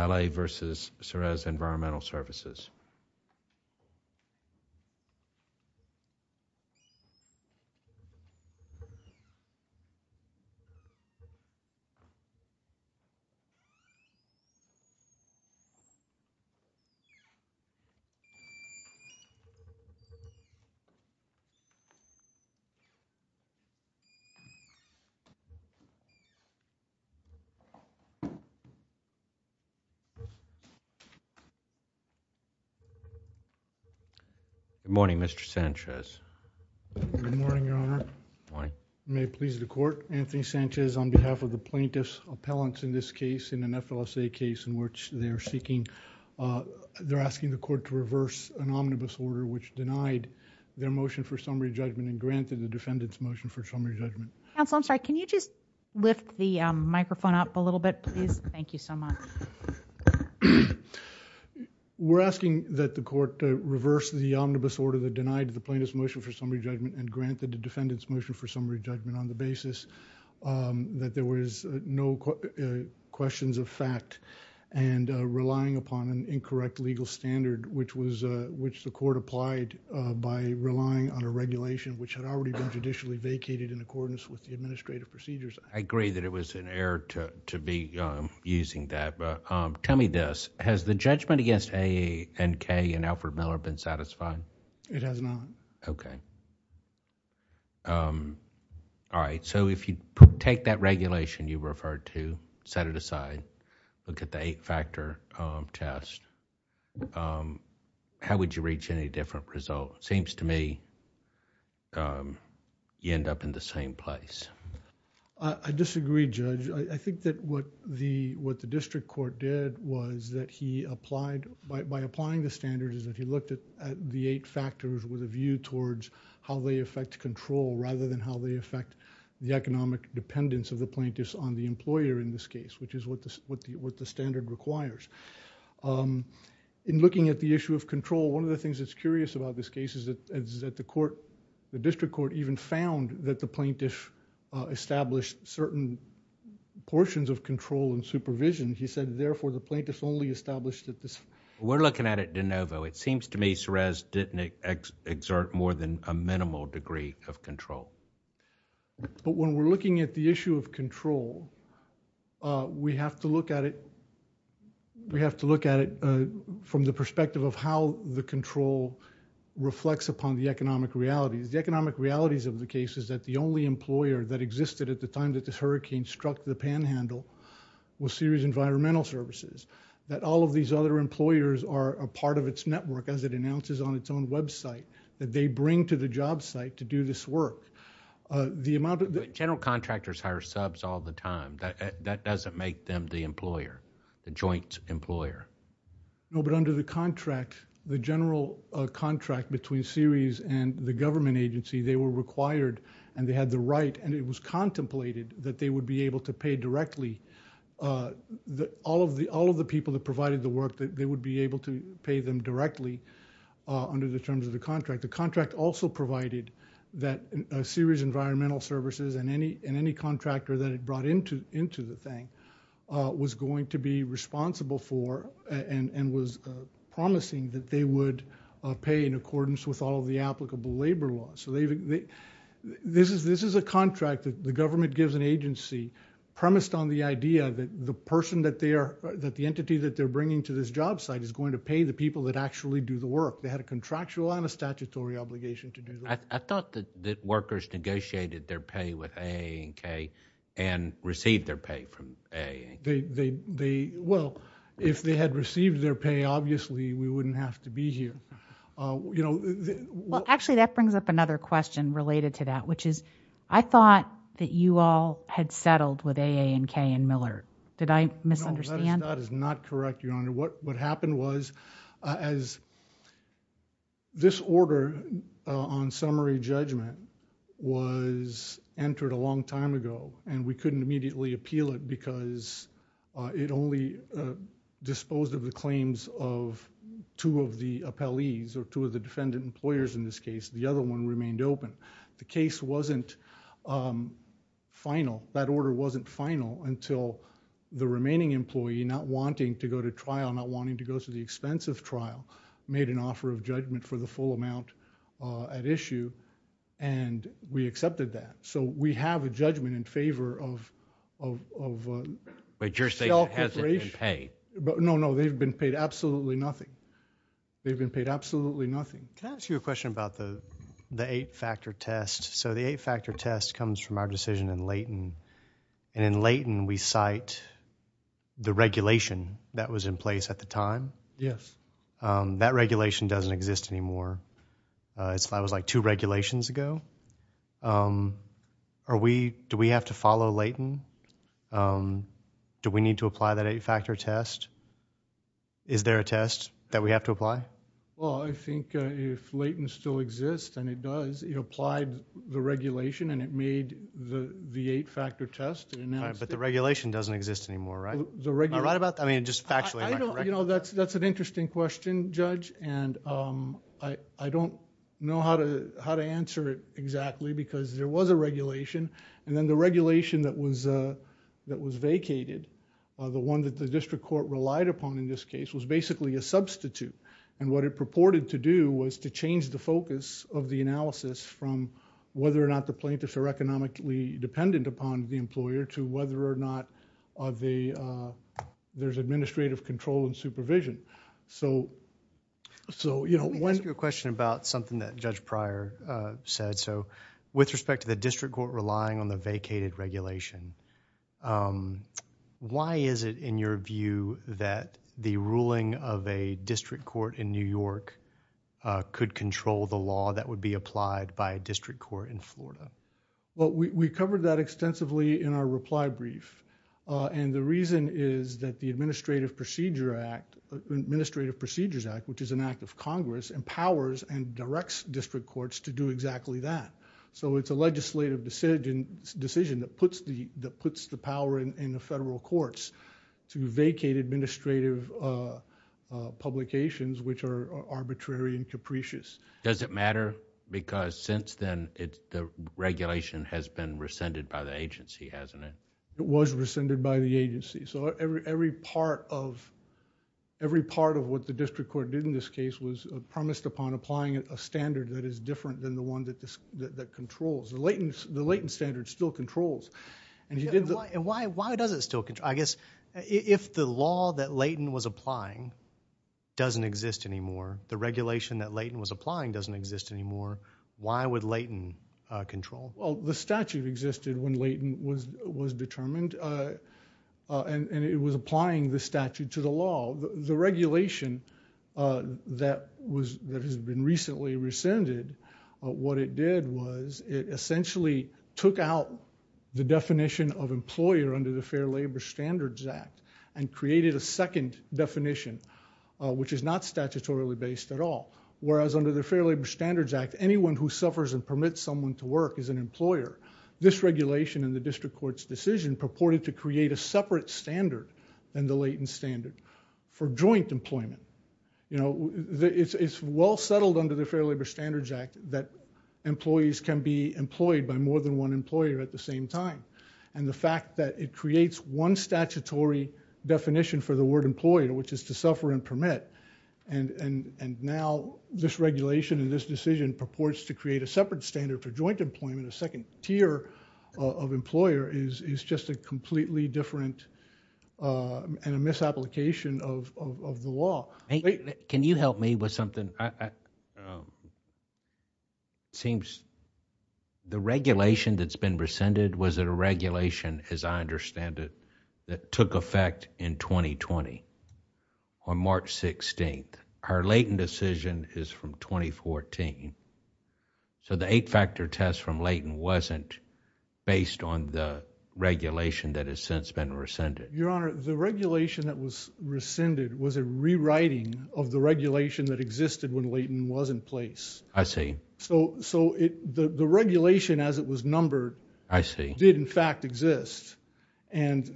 Valle v. Ceres Environmental Services. Good morning, Mr. Sanchez. Good morning, Your Honor. Good morning. May it please the Court, Anthony Sanchez on behalf of the plaintiff's appellants in this case in an FLSA case in which they're seeking, they're asking the Court to reverse an omnibus order which denied their motion for summary judgment and granted the defendant's motion for summary judgment. Counsel, I'm sorry, can you just lift the microphone up a little bit, please? Thank you so much. We're asking that the Court reverse the omnibus order that denied the plaintiff's motion for summary judgment and granted the defendant's motion for summary judgment on the basis that there was no questions of fact and relying upon an incorrect legal standard which the Court applied by relying on a regulation which had already been judicially vacated in accordance with the administrative procedures. I agree that it was an error to be using that, but tell me this. Has the judgment against AA and K and Alfred Miller been satisfied? It has not. Okay. All right. If you take that regulation you referred to, set it aside, look at the eight-factor test, how would you reach any different result? Seems to me you end up in the same place. I disagree, Judge. I think that what the District Court did was that he applied, by applying the standard, is that he looked at the eight factors with a view towards how they affect control rather than how they affect the economic dependence of the plaintiffs on the employer in this case, which is what the standard requires. In looking at the issue of control, one of the things that's curious about this case is that the court, the District Court even found that the plaintiff established certain portions of control and supervision. He said, therefore, the plaintiff only established that this... We're looking at it de novo. It seems to me Srez didn't exert more than a minimal degree of control. When we're looking at the issue of control, we have to look at it from the perspective of how the control reflects upon the economic realities. The economic realities of the case is that the only employer that existed at the time that this hurricane struck the panhandle was Ceres Environmental Services, that all of these other employers are a part of its network as it announces on its own website that they bring to the job site to do this work. The amount of... General contractors hire subs all the time. That doesn't make them the employer, the joint employer. No, but under the contract, the general contract between Serez and the government agency, they were required and they had the right and it was contemplated that they would be able to pay directly all of the people that provided the work, that they would be able to pay them directly under the terms of the contract. The contract also provided that Serez Environmental Services and any contractor that it brought into the thing was going to be responsible for and was promising that they would pay in accordance with all of the applicable labor laws. This is a contract that the government gives an agency premised on the idea that the person that they are... that the entity that they're bringing to this job site is going to pay the people that actually do the work. They had a contractual and a statutory obligation to do the work. I thought that workers negotiated their pay with AA and K and received their pay from AA. They... well, if they had received their pay, obviously, we wouldn't have to be here. Actually, that brings up another question related to that, which is I thought that you all had settled with AA and K and Miller. Did I misunderstand? No, that is not correct, Your Honor. What happened was as this order on summary judgment was entered a long time ago and we couldn't immediately appeal it because it only disposed of the claims of two of the appellees or two of the defendant employers in this case. The other one remained open. The case wasn't final. That order wasn't final until the remaining employee not wanting to go to trial, not wanting to go to the expense of trial, made an offer of judgment for the full amount at issue and we accepted that. So, we have a judgment in favor of... But your state hasn't been paid. No, no. They've been paid absolutely nothing. They've been paid absolutely nothing. Can I ask you a question about the eight-factor test? So, the eight-factor test comes from our decision in Leighton and in Leighton we cite the regulation that was in place at the time. Yes. That regulation doesn't exist anymore. That was like two regulations ago. Do we have to follow Leighton? Do we need to apply that eight-factor test? Is there a test that we have to apply? Well, I think if Leighton still exists and it does, it applied the regulation and it made the eight-factor test and now... But the regulation doesn't exist anymore, right? The regulation... Am I right about that? I mean, just factually. I don't... You know, that's an interesting question, Judge, and I don't know how to answer it exactly because there was a regulation and then the regulation that was vacated, the one that the district court relied upon in this case was basically a substitute and what it purported to do was to change the focus of the analysis from whether or not the plaintiffs are economically dependent upon the employer to whether or not there's administrative control and supervision. So, you know, when... Let me ask you a question about something that Judge Pryor said. So, with respect to the district court relying on the vacated regulation, why is it in your view that the ruling of a district court in New York could control the law that would be applied by a district court in Florida? Well, we covered that extensively in our reply brief and the reason is that the Administrative Procedures Act, which is an act of Congress, empowers and directs district courts to do exactly that. So, it's a legislative decision that puts the power in the federal courts to vacate administrative publications which are arbitrary and capricious. Does it matter because since then, the regulation has been rescinded by the agency, hasn't it? It was rescinded by the agency, so every part of what the district court did in this case was promised upon applying a standard that is different than the one that controls. The Layton standard still controls. And why does it still control? I guess if the law that Layton was applying doesn't exist anymore, the regulation that Layton was applying doesn't exist anymore, why would Layton control? The statute existed when Layton was determined and it was applying the statute to the law. The regulation that has been recently rescinded, what it did was it essentially took out the definition of employer under the Fair Labor Standards Act and created a second definition which is not statutorily based at all. Whereas under the Fair Labor Standards Act, anyone who suffers and permits someone to work is an employer. This regulation in the district court's decision purported to create a separate standard than the Layton standard for joint employment. It's well settled under the Fair Labor Standards Act that employees can be employed by more than one employer at the same time. And the fact that it creates one statutory definition for the word employer, which is to suffer and permit, and now this regulation and this decision purports to create a separate standard for joint employment, a second tier of employer is just a completely different and a misapplication of the law. Can you help me with something? The regulation that's been rescinded was a regulation as I understand it that took effect in 2020 on March 16th. Her Layton decision is from 2014. So the eight factor test from Layton wasn't based on the regulation that has since been rescinded. Your Honor, the regulation that was rescinded was a rewriting of the regulation that existed when Layton was in place. I see. So the regulation as it was numbered did in fact exist. And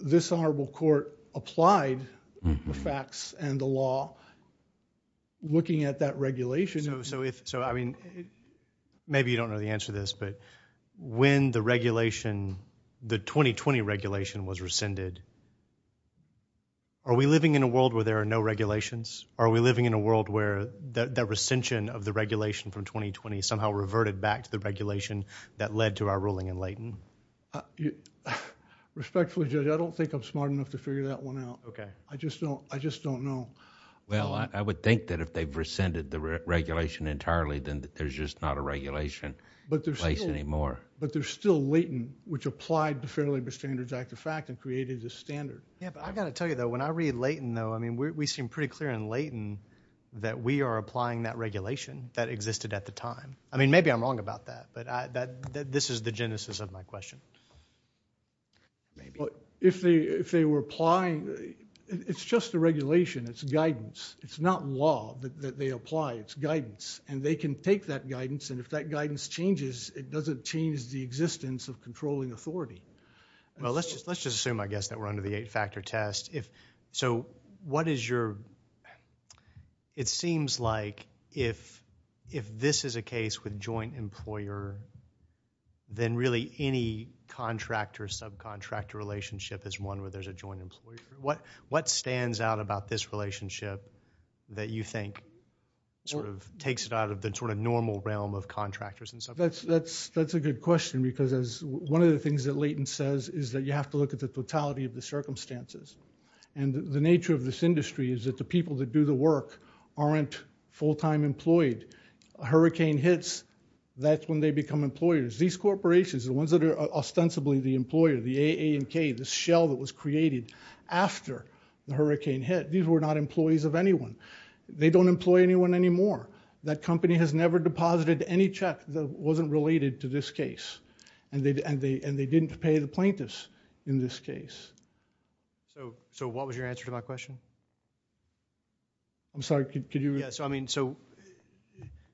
this Honorable Court applied the facts and the law looking at that regulation. So maybe you don't know the answer to this, but when the regulation, the 2020 regulation was rescinded, are we living in a world where there are no regulations? Are we living in a world where the rescension of the regulation from 2020 somehow reverted back to the regulation that led to our ruling in Layton? Respectfully, Judge, I don't think I'm smart enough to figure that one out. I just don't know. Well, I would think that if they've rescinded the regulation entirely, then there's just not a regulation in place anymore. But there's still Layton, which applied the Fair Labor Standards Act, in fact, and created this standard. Yeah, but I got to tell you, though, when I read Layton, though, I mean, we seem pretty clear in Layton that we are applying that regulation that existed at the time. I mean, maybe I'm wrong about that, but that this is the genesis of my question. Maybe. Well, if they were applying, it's just a regulation, it's guidance. It's not law that they apply, it's guidance. And they can take that guidance, and if that guidance changes, it doesn't change the existence of controlling authority. Well, let's just assume, I guess, that we're under the eight-factor test. So what is your, it seems like if this is a case with joint employer, then really any contractor-subcontractor relationship is one where there's a joint employer. What stands out about this relationship that you think sort of takes it out of the sort of normal realm of contractors and subcontractors? That's a good question, because one of the things that Layton says is that you have to look at the totality of the circumstances. And the nature of this industry is that the people that do the work aren't full-time employed. Hurricane hits, that's when they become employers. These corporations, the ones that are ostensibly the employer, the A, A, and K, the shell that was created after the hurricane hit, these were not employees of anyone. They don't employ anyone anymore. That company has never deposited any check that wasn't related to this case. And they didn't pay the plaintiffs in this case. So what was your answer to my question? I'm sorry, could you repeat?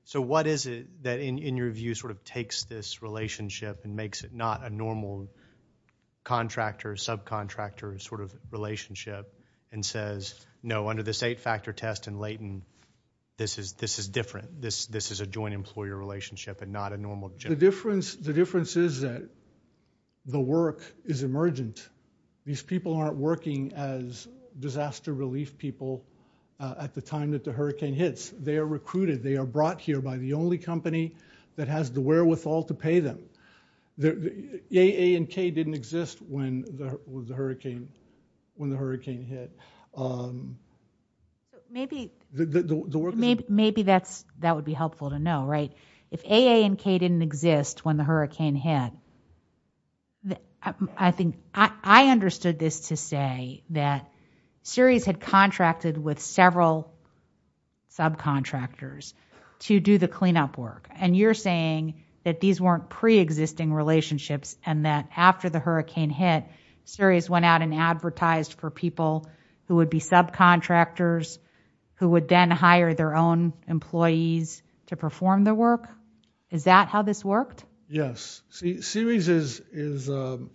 So what is it that, in your view, sort of takes this relationship and makes it not a normal contractor-subcontractor sort of relationship and says, no, under this eight-factor test in Layton, this is different. This is a joint employer relationship and not a normal job. The difference is that the work is emergent. These people aren't working as disaster relief people at the time that the hurricane hits. They are recruited. They are brought here by the only company that has the wherewithal to pay them. A, A, and K didn't exist when the hurricane hit. Maybe that would be helpful to know, right? If A, A, and K didn't exist when the hurricane hit, I understood this to say that Ceres had contracted with several subcontractors to do the cleanup work. And you're saying that these weren't pre-existing relationships and that after the hurricane hit, Ceres went out and advertised for people who would be subcontractors who would then Is that how this worked? Yes. Ceres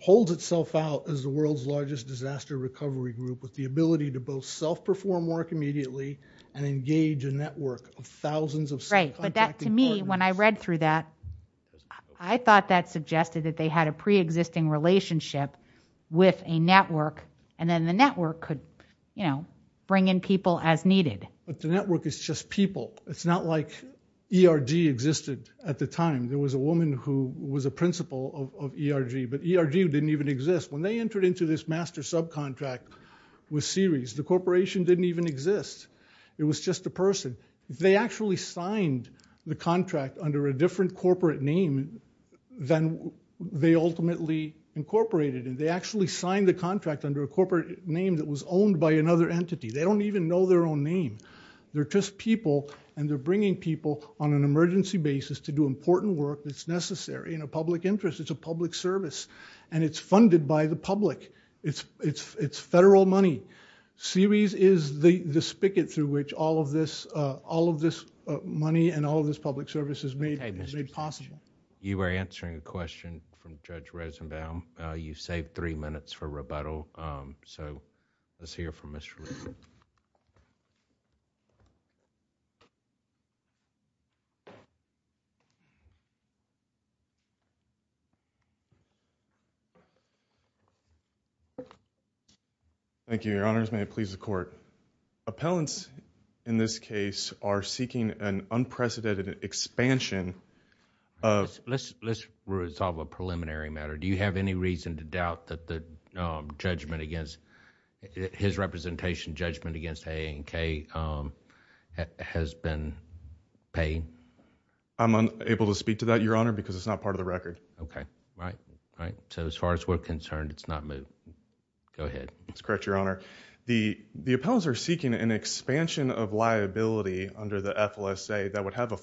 holds itself out as the world's largest disaster recovery group with the ability to both self-perform work immediately and engage a network of thousands of subcontracting partners. Right, but that to me, when I read through that, I thought that suggested that they had a pre-existing relationship with a network and then the network could bring in people as needed. But the network is just people. It's not like ERG existed at the time. There was a woman who was a principal of ERG, but ERG didn't even exist. When they entered into this master subcontract with Ceres, the corporation didn't even exist. It was just a person. They actually signed the contract under a different corporate name than they ultimately incorporated. And they actually signed the contract under a corporate name that was owned by another entity. They don't even know their own name. They're just people, and they're bringing people on an emergency basis to do important work that's necessary in a public interest. It's a public service, and it's funded by the public. It's federal money. Ceres is the spigot through which all of this money and all of this public service is made possible. You were answering a question from Judge Rosenbaum. You saved three minutes for rebuttal, so let's hear from Mr. Rosenbaum. Thank you, Your Honors. May it please the Court. Appellants in this case are seeking an unprecedented expansion of... Let's resolve a preliminary matter. Do you have any reason to doubt that his representation judgment against A&K has been paid? I'm unable to speak to that, Your Honor, because it's not part of the record. Okay. Right. So as far as we're concerned, it's not moved. Go ahead. That's correct, Your Honor. The appellants are seeking an expansion of liability under the FLSA that would have a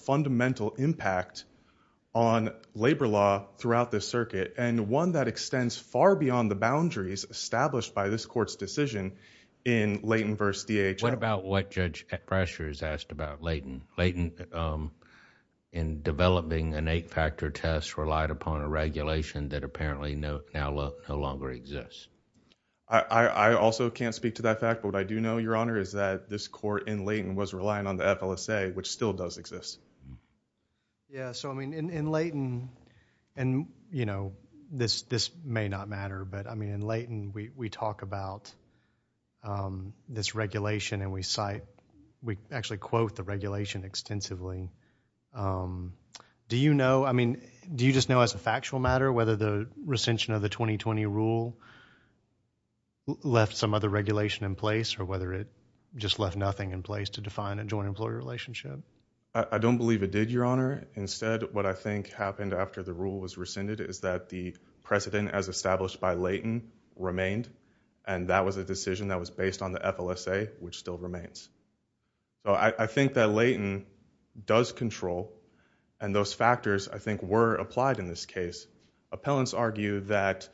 one that extends far beyond the boundaries established by this Court's decision in Leighton v. DHL. What about what Judge Pressure has asked about Leighton? Leighton, in developing an eight-factor test, relied upon a regulation that apparently now no longer exists. I also can't speak to that fact, but what I do know, Your Honor, is that this Court in Leighton was relying on the FLSA, which still does exist. Yeah. So, I mean, in Leighton... and, you know, this may not matter, but, I mean, in Leighton, we talk about this regulation and we cite... we actually quote the regulation extensively. Do you know... I mean, do you just know as a factual matter whether the recension of the 2020 rule left some other regulation in place or whether it just left nothing in place to define a joint employer relationship? I don't believe it did, Your Honor. Instead, what I think happened after the rule was rescinded is that the precedent as established by Leighton remained and that was a decision that was based on the FLSA, which still remains. So, I think that Leighton does control and those factors, I think, were applied in this case. Appellants argue that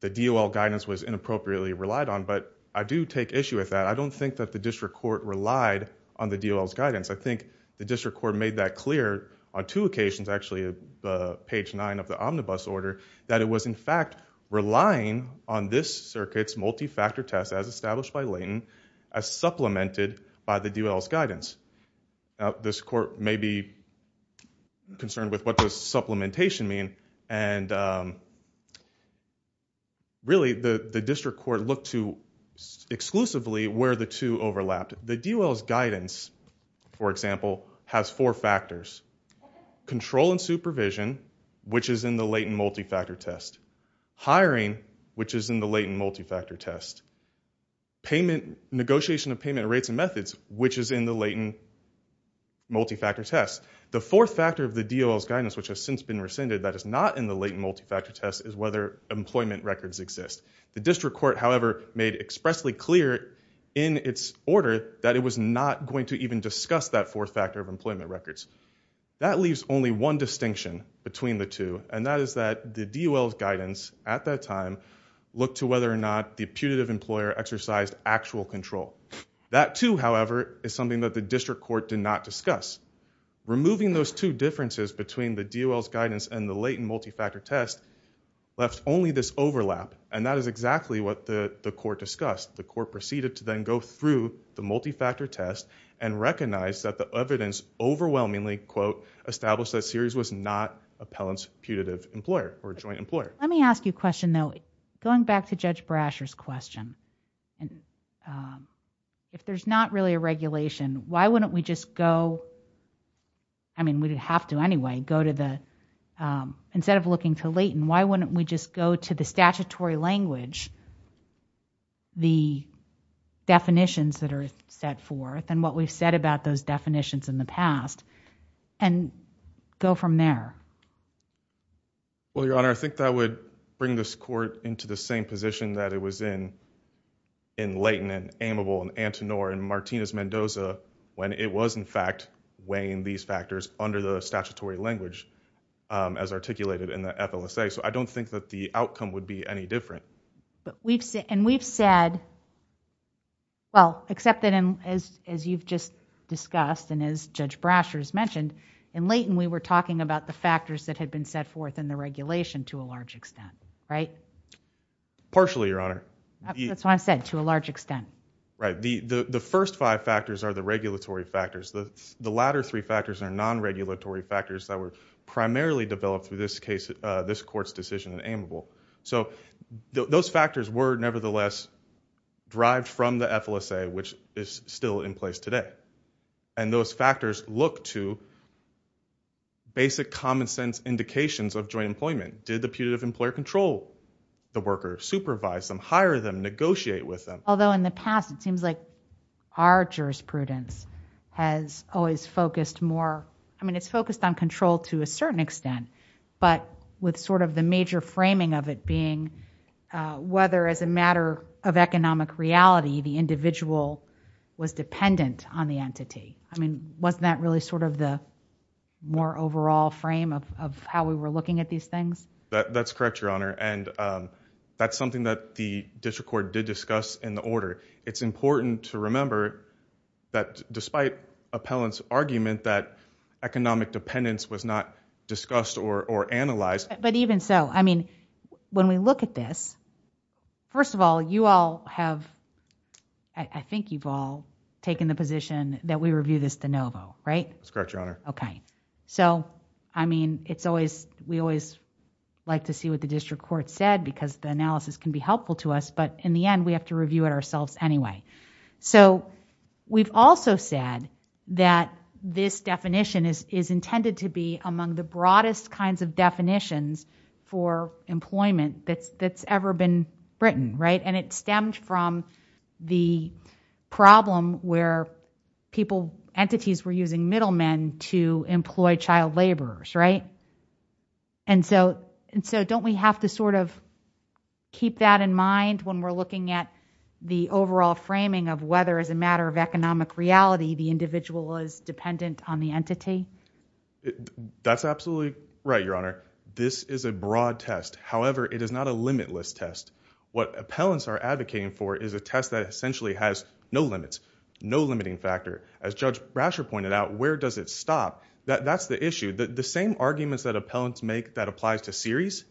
the DOL guidance was inappropriately relied on, but I do take issue with that. I don't think that the district court relied on the DOL's guidance. I think the district court made that clear on two occasions, actually, page nine of the omnibus order, that it was, in fact, relying on this circuit's multi-factor test as established by Leighton as supplemented by the DOL's guidance. This court may be concerned with what does supplementation mean and, really, the district court looked to exclusively where the two overlapped. The DOL's guidance, for example, has four factors. Control and supervision, which is in the Leighton multi-factor test. Hiring, which is in the Leighton multi-factor test. Negotiation of payment rates and methods, which is in the Leighton multi-factor test. The fourth factor of the DOL's guidance, which has since been rescinded, that is not in the Leighton multi-factor test is whether employment records exist. The district court, however, made expressly clear in its order that it was not going to even discuss that fourth factor of employment records. That leaves only one distinction between the two, and that is that the DOL's guidance at that time looked to whether or not the putative employer exercised actual control. That too, however, is something that the district court did not discuss. Removing those two differences between the DOL's guidance and the Leighton multi-factor test left only this overlap, and that is exactly what the court discussed. The court proceeded to then go through the multi-factor test and recognize that the evidence overwhelmingly, quote, established that Sears was not appellant's putative employer or joint employer. Let me ask you a question, though. Going back to Judge Brasher's question, if there's not really a regulation, why wouldn't we just go, I mean, we'd have to anyway, go to the, instead of looking to Leighton, why wouldn't we just go to the statutory language, the definitions that are set forth, and what we've said about those definitions in the past, and go from there? Well, Your Honor, I think that would bring this court into the same position that it was in Leighton, and Amable, and Antonor, and Martinez-Mendoza, when it was, in fact, weighing these factors under the statutory language as articulated in the FLSA, so I don't think that the outcome would be any different. And we've said, well, except that as you've just discussed, and as Judge Brasher's mentioned, in Leighton, we were talking about the factors that had been set forth in the regulation to a large extent, right? Partially, Your Honor. That's what I said, to a large extent. Right. The first five factors are the regulatory factors. The latter three factors are non-regulatory factors that were primarily developed through this case, this court's decision in Amable. So those factors were, nevertheless, derived from the FLSA, which is still in place today. And those factors look to basic common-sense indications of joint employment. Did the putative employer control the worker, supervise them, hire them, negotiate with them? Although in the past, it seems like our jurisprudence has always focused more, I mean, it's focused on control to a certain extent, but with sort of the major framing of it being whether, as a matter of economic reality, the individual was dependent on the entity. I mean, wasn't that really sort of the more overall frame of how we were looking at these things? That's correct, Your Honor. And that's something that the district court did discuss in the order. It's important to remember that despite appellant's argument that economic dependence was not discussed or analyzed. But even so, I mean, when we look at this, first of all, you all have, I think you've all taken the position that we review this de novo, right? That's correct, Your Honor. Okay. So, I mean, it's always, we always like to see what the district court said because the analysis can be helpful to us, but in the end, we have to review it ourselves anyway. So we've also said that this definition is intended to be among the broadest kinds of definitions for employment that's ever been written, right? And it stemmed from the problem where people, entities were using middlemen to employ child laborers, right? And so don't we have to sort of keep that in mind when we're looking at the overall framing of whether as a matter of economic reality, the individual is dependent on the entity? That's absolutely right, Your Honor. This is a broad test. However, it is not a limitless test. What appellants are advocating for is a test that essentially has no limits, no limiting factor. As Judge Brasher pointed out, where does it stop? That's the issue. The same arguments that appellants make that applies to series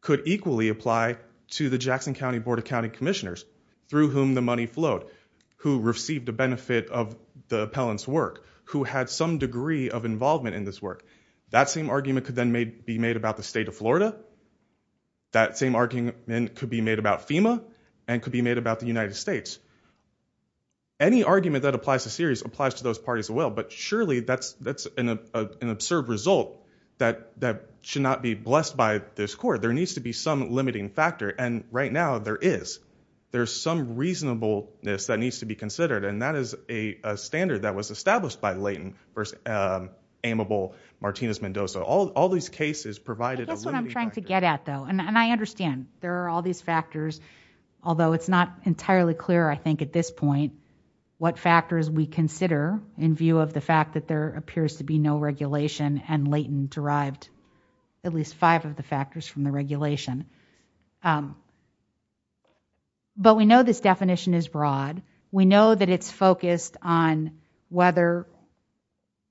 could equally apply to the Jackson County Board of County Commissioners through whom the money flowed, who received a benefit of the appellant's work, who had some degree of involvement in this work. That same argument could then be made about the state of Florida. That same argument could be made about FEMA and could be made about the United States. Any argument that applies to series applies to those parties as well. But surely that's an absurd result that should not be blessed by this court. There needs to be some limiting factor. And right now there is. There's some reasonableness that needs to be considered. And that is a standard that was established by Layton versus amiable Martinez-Mendoza. All these cases provided a limiting factor. That's what I'm trying to get at, though. And I understand there are all these factors, although it's not entirely clear, I think, at this point, what factors we consider in view of the fact that there appears to be no regulation and Layton derived at least five of the factors from the regulation. But we know this definition is broad. We know that it's focused on whether,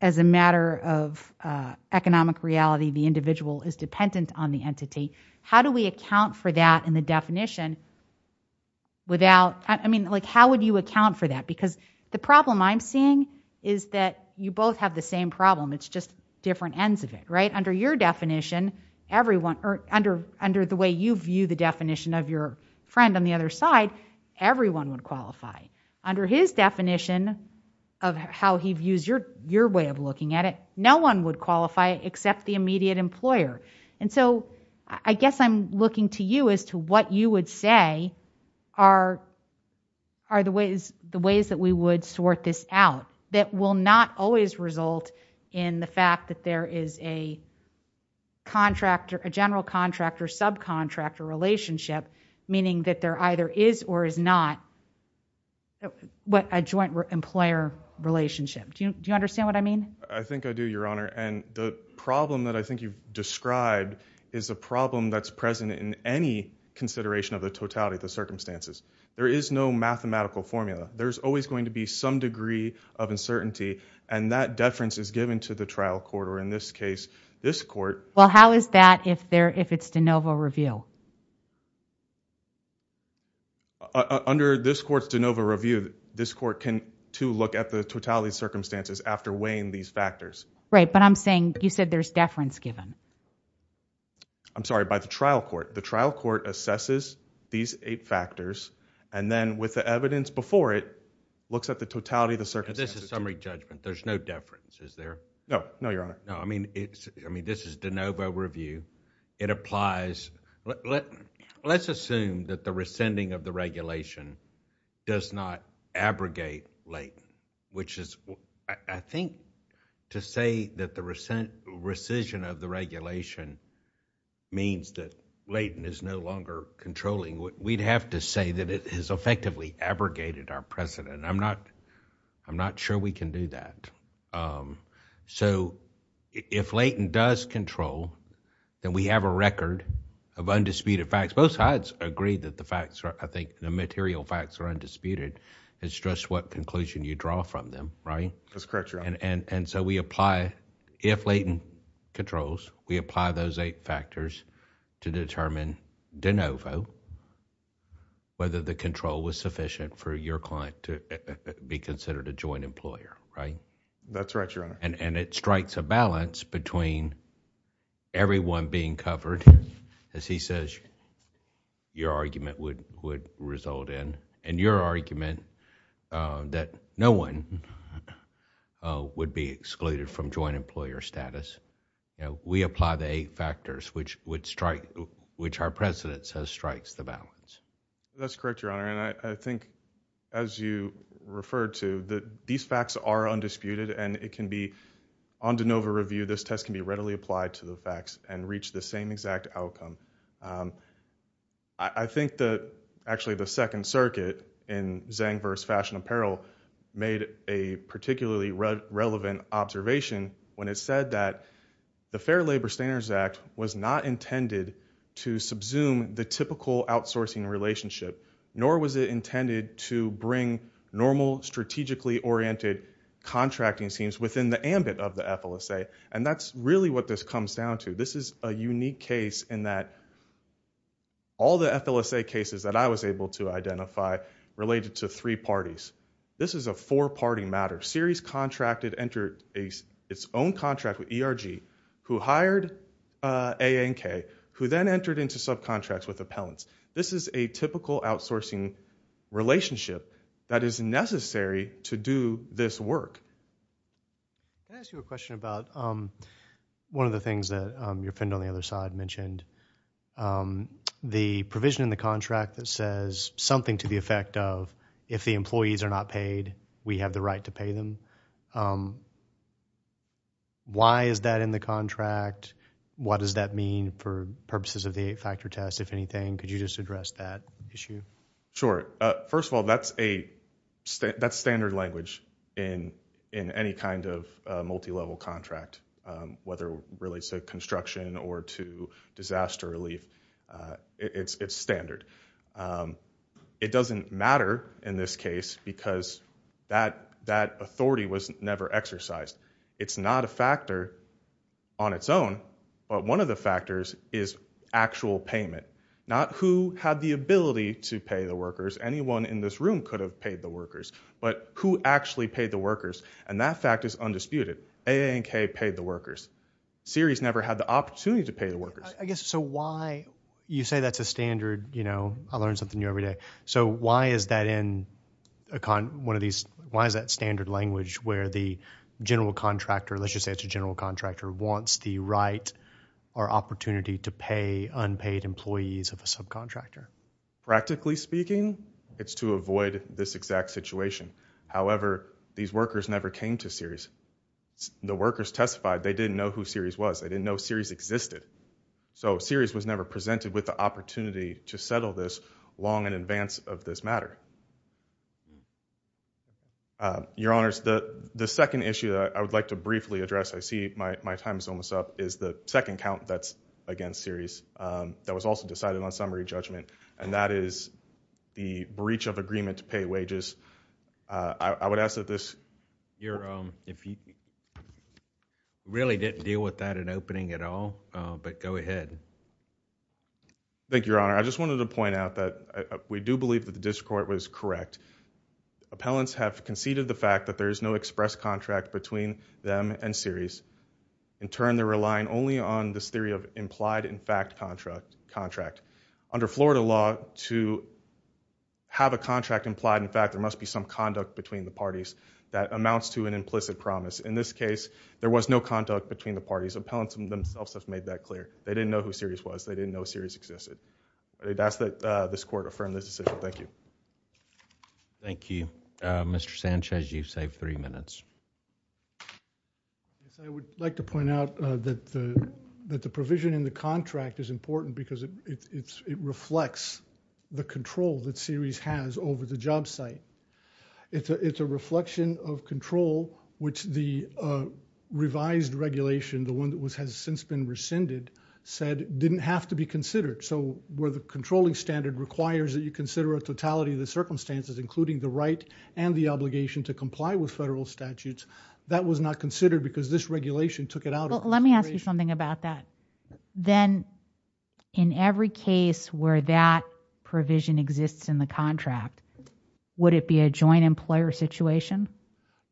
as a matter of economic reality, the individual is dependent on the entity. How do we account for that in the definition without, I mean, like, how would you account for that? Because the problem I'm seeing is that you both have the same problem. It's just different ends of it, right? Under your definition, everyone, or under the way you view the definition of your friend on the other side, everyone would qualify. Under his definition of how he views your way of looking at it, no one would qualify except the immediate employer. And so I guess I'm looking to you as to what you would say are the ways that we would sort this out that will not always result in the fact that there is a general contractor-subcontractor relationship, meaning that there either is or is not a joint employer relationship. Do you understand what I mean? I think I do, Your Honor. And the problem that I think you've described is a problem that's present in any consideration of the totality of the circumstances. There is no mathematical formula. There's always going to be some degree of uncertainty, and that deference is given to the trial court, or in this case, this court. Well, how is that if it's de novo review? Under this court's de novo review, this court can, too, look at the totality of circumstances after weighing these factors. Right, but I'm saying you said there's deference given. I'm sorry. By the trial court. The trial court assesses these eight factors, and then with the evidence before it, looks at the totality of the circumstances. This is summary judgment. There's no deference, is there? No. No, Your Honor. No, I mean, this is de novo review. It applies... Let's assume that the rescinding of the regulation does not abrogate Layton, which is, I think, to say that the rescission of the regulation means that Layton is no longer controlling, we'd have to say that it has effectively abrogated our precedent. I'm not sure we can do that. So, if Layton does control, then we have a record of undisputed facts. Both sides agree that the facts are, I think, the material facts are undisputed. It's just what conclusion you draw from them, right? That's correct, Your Honor. And so, we apply, if Layton controls, we apply those eight factors to determine de novo, whether the control was sufficient for your client to be considered a joint employer, right? That's right, Your Honor. And it strikes a balance between everyone being covered, as he says your argument would result in, and your argument that no one would be excluded from joint employer status. We apply the eight factors, which our precedent says strikes the balance. That's correct, Your Honor. And I think, as you referred to, that these facts are undisputed, and it can be, on de novo review, this test can be readily applied to the facts and reach the same exact outcome. I think that, actually, the Second Circuit, in Zang versus Fashion Apparel, made a particularly relevant observation when it said that the Fair Labor Standards Act was not intended to subsume the typical outsourcing relationship, nor was it intended to bring normal, strategically oriented contracting teams within the ambit of the FLSA. And that's really what this comes down to. This is a unique case in that all the FLSA cases that I was able to identify related to three parties. This is a four-party matter. A subcontract series contracted entered its own contract with ERG, who hired A, A, and K, who then entered into subcontracts with appellants. This is a typical outsourcing relationship that is necessary to do this work. Can I ask you a question about one of the things that your friend on the other side mentioned, the provision in the contract that says something to the effect of, if the employees are not paid, we have the right to pay them. Why is that in the contract? What does that mean for purposes of the eight-factor test, if anything? Could you just address that issue? Sure. First of all, that's standard language in any kind of multi-level contract, whether it relates to construction or to disaster relief, it's standard. It doesn't matter in this case because that authority was never exercised. It's not a factor on its own, but one of the factors is actual payment. Not who had the ability to pay the workers, anyone in this room could have paid the workers, but who actually paid the workers, and that fact is undisputed. A, A, and K paid the workers. Series never had the opportunity to pay the workers. I guess, so why, you say that's a standard, you know, I learn something new every day. So why is that in one of these, why is that standard language where the general contractor, let's just say it's a general contractor, wants the right or opportunity to pay unpaid employees of a subcontractor? Practically speaking, it's to avoid this exact situation. However, these workers never came to series. The workers testified they didn't know who series was. They didn't know series existed. So series was never presented with the opportunity to settle this long in advance of this matter. Your honors, the second issue that I would like to briefly address, I see my time is almost up, is the second count that's against series that was also decided on summary judgment, and that is the breach of agreement to pay wages. I would ask that this, if you really didn't deal with that in opening at all, but go ahead. Thank you, your honor. I just wanted to point out that we do believe that the district court was correct. Appellants have conceded the fact that there is no express contract between them and series. In turn, they're relying only on this theory of implied in fact contract. Under Florida law, to have a contract implied in fact, there must be some conduct between the parties that amounts to an implicit promise. In this case, there was no conduct between the parties. Appellants themselves have made that clear. They didn't know who series was. They didn't know series existed. That's that this court affirmed this decision. Thank you. Thank you. Mr. Sanchez, you've saved three minutes. I would like to point out that the provision in the contract is important because it reflects the control that series has over the job site. It's a reflection of control, which the revised regulation, the one that has since been rescinded, said didn't have to be considered. So where the controlling standard requires that you consider a totality of the circumstances, including the right and the obligation to comply with federal statutes, that was not considered because this regulation took it out of consideration. Let me ask you something about that. Then, in every case where that provision exists in the contract, would it be a joint employer situation?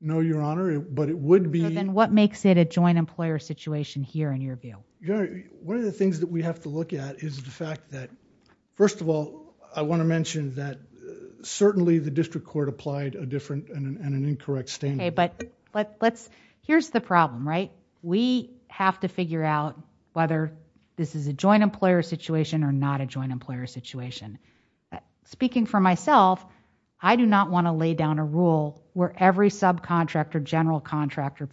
No, Your Honor, but it would be... So then what makes it a joint employer situation here in your view? One of the things that we have to look at is the fact that, first of all, I want to see the district court apply a different and an incorrect standard. Here's the problem, right? We have to figure out whether this is a joint employer situation or not a joint employer situation. Speaking for myself, I do not want to lay down a rule where every subcontractor, general contractor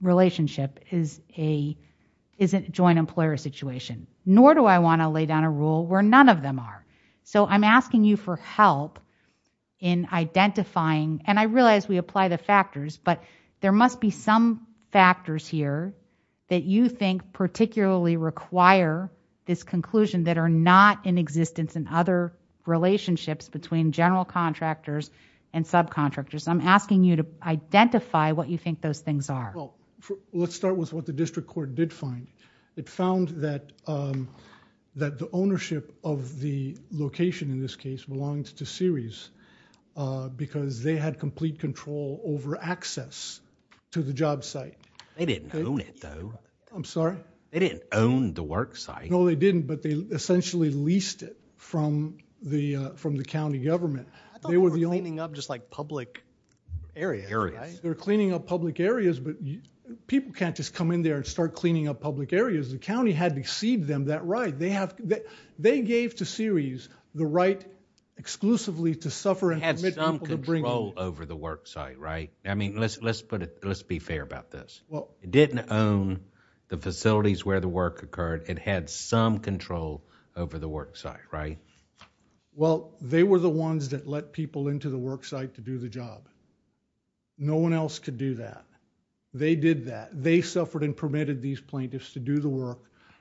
relationship is a joint employer situation, nor do I want to lay down a rule where none of them are. I'm asking you for help in identifying... I realize we apply the factors, but there must be some factors here that you think particularly require this conclusion that are not in existence in other relationships between general contractors and subcontractors. I'm asking you to identify what you think those things are. Let's start with what the district court did find. It found that the ownership of the location in this case belonged to Ceres because they had complete control over access to the job site. They didn't own it though. I'm sorry? They didn't own the work site. No, they didn't, but they essentially leased it from the county government. I thought they were cleaning up just like public areas. They're cleaning up public areas, but people can't just come in there and start cleaning up public areas. The county had to cede them that right. They gave to Ceres the right exclusively to suffer... It had some control over the work site, right? Let's be fair about this. It didn't own the facilities where the work occurred. It had some control over the work site, right? Well, they were the ones that let people into the work site to do the job. No one else could do that. They did that. They suffered and permitted these plaintiffs to do the work,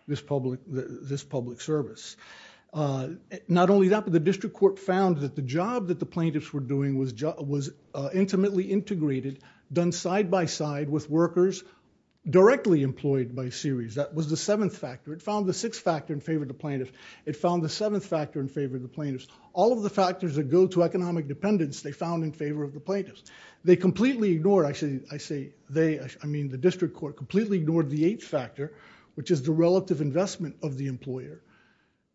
this public service. Not only that, but the district court found that the job that the plaintiffs were doing was intimately integrated, done side-by-side with workers directly employed by Ceres. That was the seventh factor. It found the sixth factor in favor of the plaintiffs. It found the seventh factor in favor of the plaintiffs. All of the factors that go to economic dependence, they found in favor of the plaintiffs. They completely ignored... I say they, I mean the district court completely ignored the eighth factor, which is the relative investment of the employer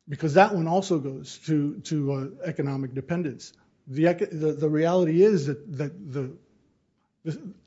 because that one also goes to economic dependence. The reality is that the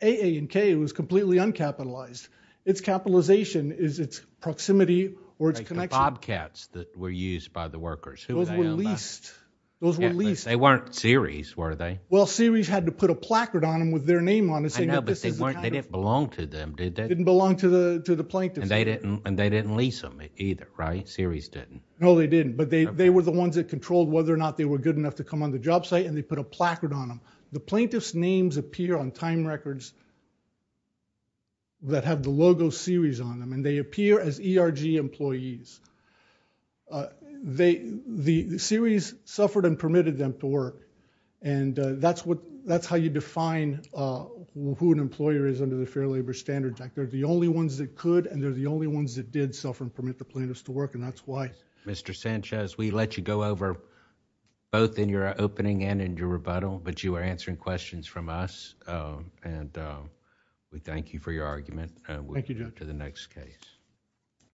A, A, and K was completely uncapitalized. Its capitalization is its proximity or its connection. The bobcats that were used by the workers, who were they on that? Those were leased. Those were leased. They weren't Ceres, were they? Well, Ceres had to put a placard on them with their name on it saying that this They didn't belong to them, did they? Didn't belong to the plaintiffs. And they didn't lease them either, right? Ceres didn't. No, they didn't. But they were the ones that controlled whether or not they were good enough to come on the job site, and they put a placard on them. The plaintiffs' names appear on time records that have the logo Ceres on them, and they appear as ERG employees. The Ceres suffered and permitted them to work. And that's how you define who an employer is under the Fair Labor Standards Act. They're the only ones that could, and they're the only ones that did suffer and permit the plaintiffs to work, and that's why. Mr. Sanchez, we let you go over both in your opening and in your rebuttal, but you are answering questions from us, and we thank you for your argument. Thank you, Judge. We'll move to the next case.